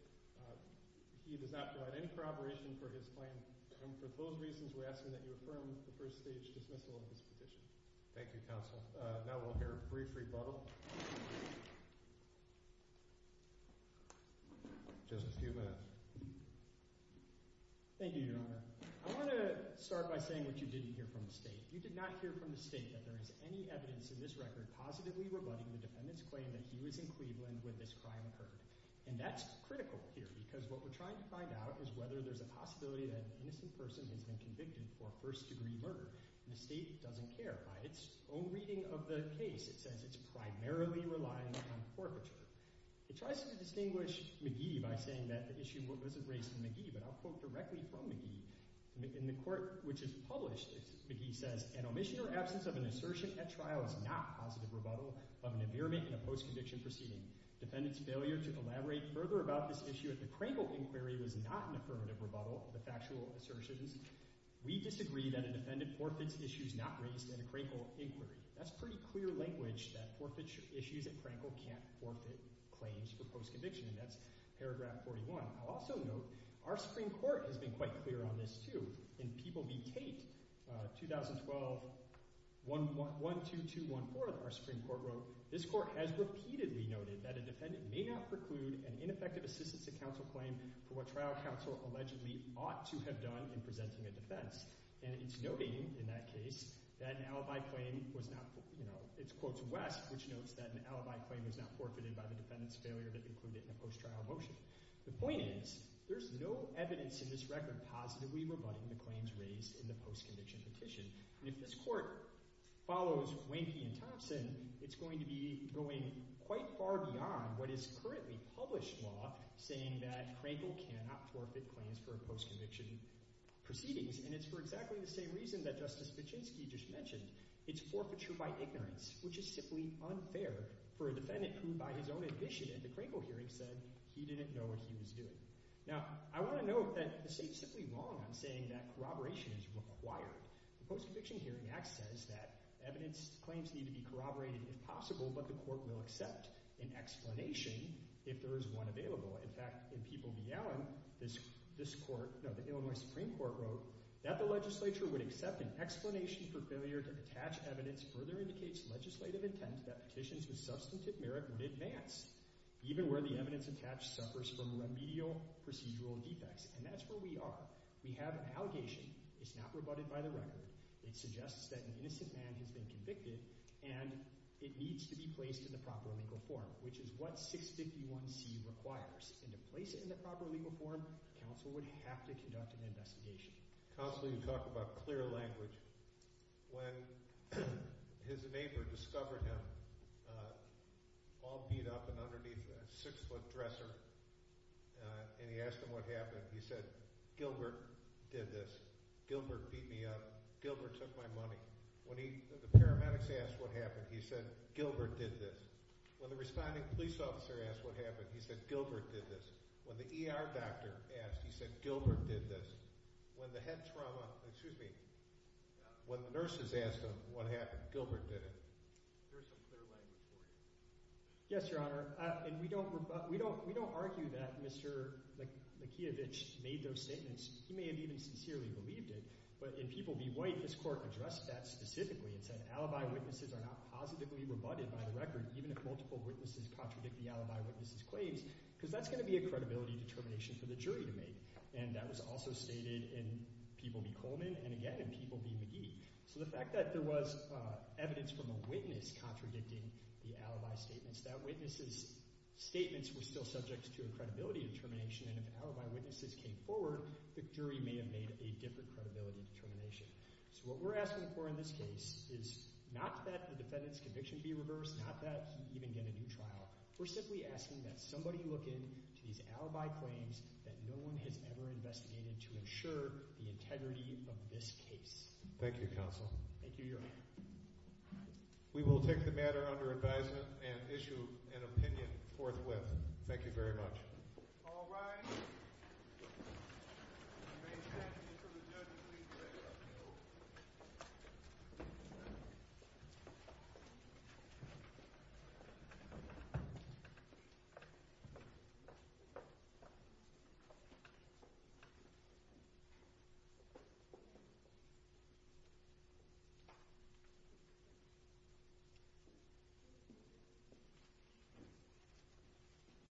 he does not provide any corroboration for his claim. And for both reasons, we ask that you affirm the first stage dismissal of this petition. Thank you, counsel. Now we'll hear a brief rebuttal. Just a few minutes. Thank you, Your Honor. I want to start by saying what you didn't hear from the state. You did not hear from the state that there is any evidence in this record positively rebutting the defendant's claim that he was in Cleveland where this crime occurred. And that's critical here because what we're trying to find out is whether there's a possibility that an innocent person has been convicted for first-degree murder. And the state doesn't care. By its own reading of the case, it says it's primarily relying on forfeiture. It tries to distinguish McGee by saying that the issue was erased from McGee, but I'll quote directly from McGee. In the court which is published, McGee says, an omission or absence of an assertion at trial is not positive rebuttal of an ameirment in a post-conviction proceeding. Defendant's failure to elaborate further about this issue at the Crankle inquiry was not an affirmative rebuttal of the factual assertions. We disagree that a defendant forfeits issues not raised at a Crankle inquiry. That's pretty clear language that forfeiture issues at Crankle can't forfeit claims for post-conviction, and that's paragraph 41. I'll also note our Supreme Court has been quite clear on this, too. In People v. Tate, 2012, 12214, our Supreme Court wrote, this court has repeatedly noted that a defendant may not preclude an ineffective assistance to counsel claim for what trial counsel allegedly ought to have done in presenting a defense. And it's noting in that case that an alibi claim was not, you know, it quotes West, which notes that an alibi claim was not forfeited by the defendant's failure to preclude it in a post-trial motion. The point is there's no evidence in this record positively rebutting the claims raised in the post-conviction petition. If this court follows Wainky and Thompson, it's going to be going quite far beyond what is currently published law saying that Crankle cannot forfeit claims for post-conviction proceedings. And it's for exactly the same reason that Justice Vichinsky just mentioned. It's forfeiture by ignorance, which is simply unfair for a defendant who, by his own admission at the Crankle hearing, said he didn't know what he was doing. Now, I want to note that the state is simply wrong on saying that corroboration is required. The Post-Conviction Hearing Act says that evidence claims need to be corroborated if possible, but the court will accept an explanation if there is one available. In fact, in People v. Allen, the Illinois Supreme Court wrote that the legislature would accept an explanation for failure to attach evidence further indicates legislative intent that petitions with substantive merit would advance, even where the evidence attached suffers from remedial procedural defects. And that's where we are. We have an allegation that's not rebutted by the record. It suggests that an innocent man has been convicted, and it needs to be placed in the proper legal form, which is what 651C requires. To place it in the proper legal form, counsel would have to conduct an investigation. Counsel, you talk about clear language. When his neighbor discovered him, all beat up and underneath a six-foot dresser, and he asked him what happened, he said, Gilbert did this. Gilbert beat me up. Gilbert took my money. When the paramedics asked what happened, he said, Gilbert did this. When the responding police officer asked what happened, he said, Gilbert did this. When the ER doctor asked, he said, Gilbert did this. When the head trauma, excuse me, when the nurses asked him what happened, Gilbert did it. There's some clear language there. Yes, Your Honor. And we don't argue that Mr. Mikheyevich made those statements. He may have even sincerely believed it. But in People Be White, this court addressed that specifically and said alibi witnesses are not positively rebutted by the record, even if multiple witnesses contradict the alibi witnesses' claims, because that's going to be a credibility determination for the jury to make. And that was also stated in People Be Coleman and, again, in People Be McGee. So the fact that there was evidence from a witness contradicting the alibi statements, that witness's statements were still subject to a credibility determination, and if alibi witnesses came forward, the jury may have made a different credibility determination. So what we're asking for in this case is not that the defendant's conviction be reversed, not that you even get a new trial. We're simply asking that somebody look into these alibi claims that no one has ever investigated to ensure the integrity of this case. Thank you, counsel. Thank you, Your Honor. We will take the matter under advisement and issue an opinion forthwith. Thank you very much. All rise. May I stand before the judge, please?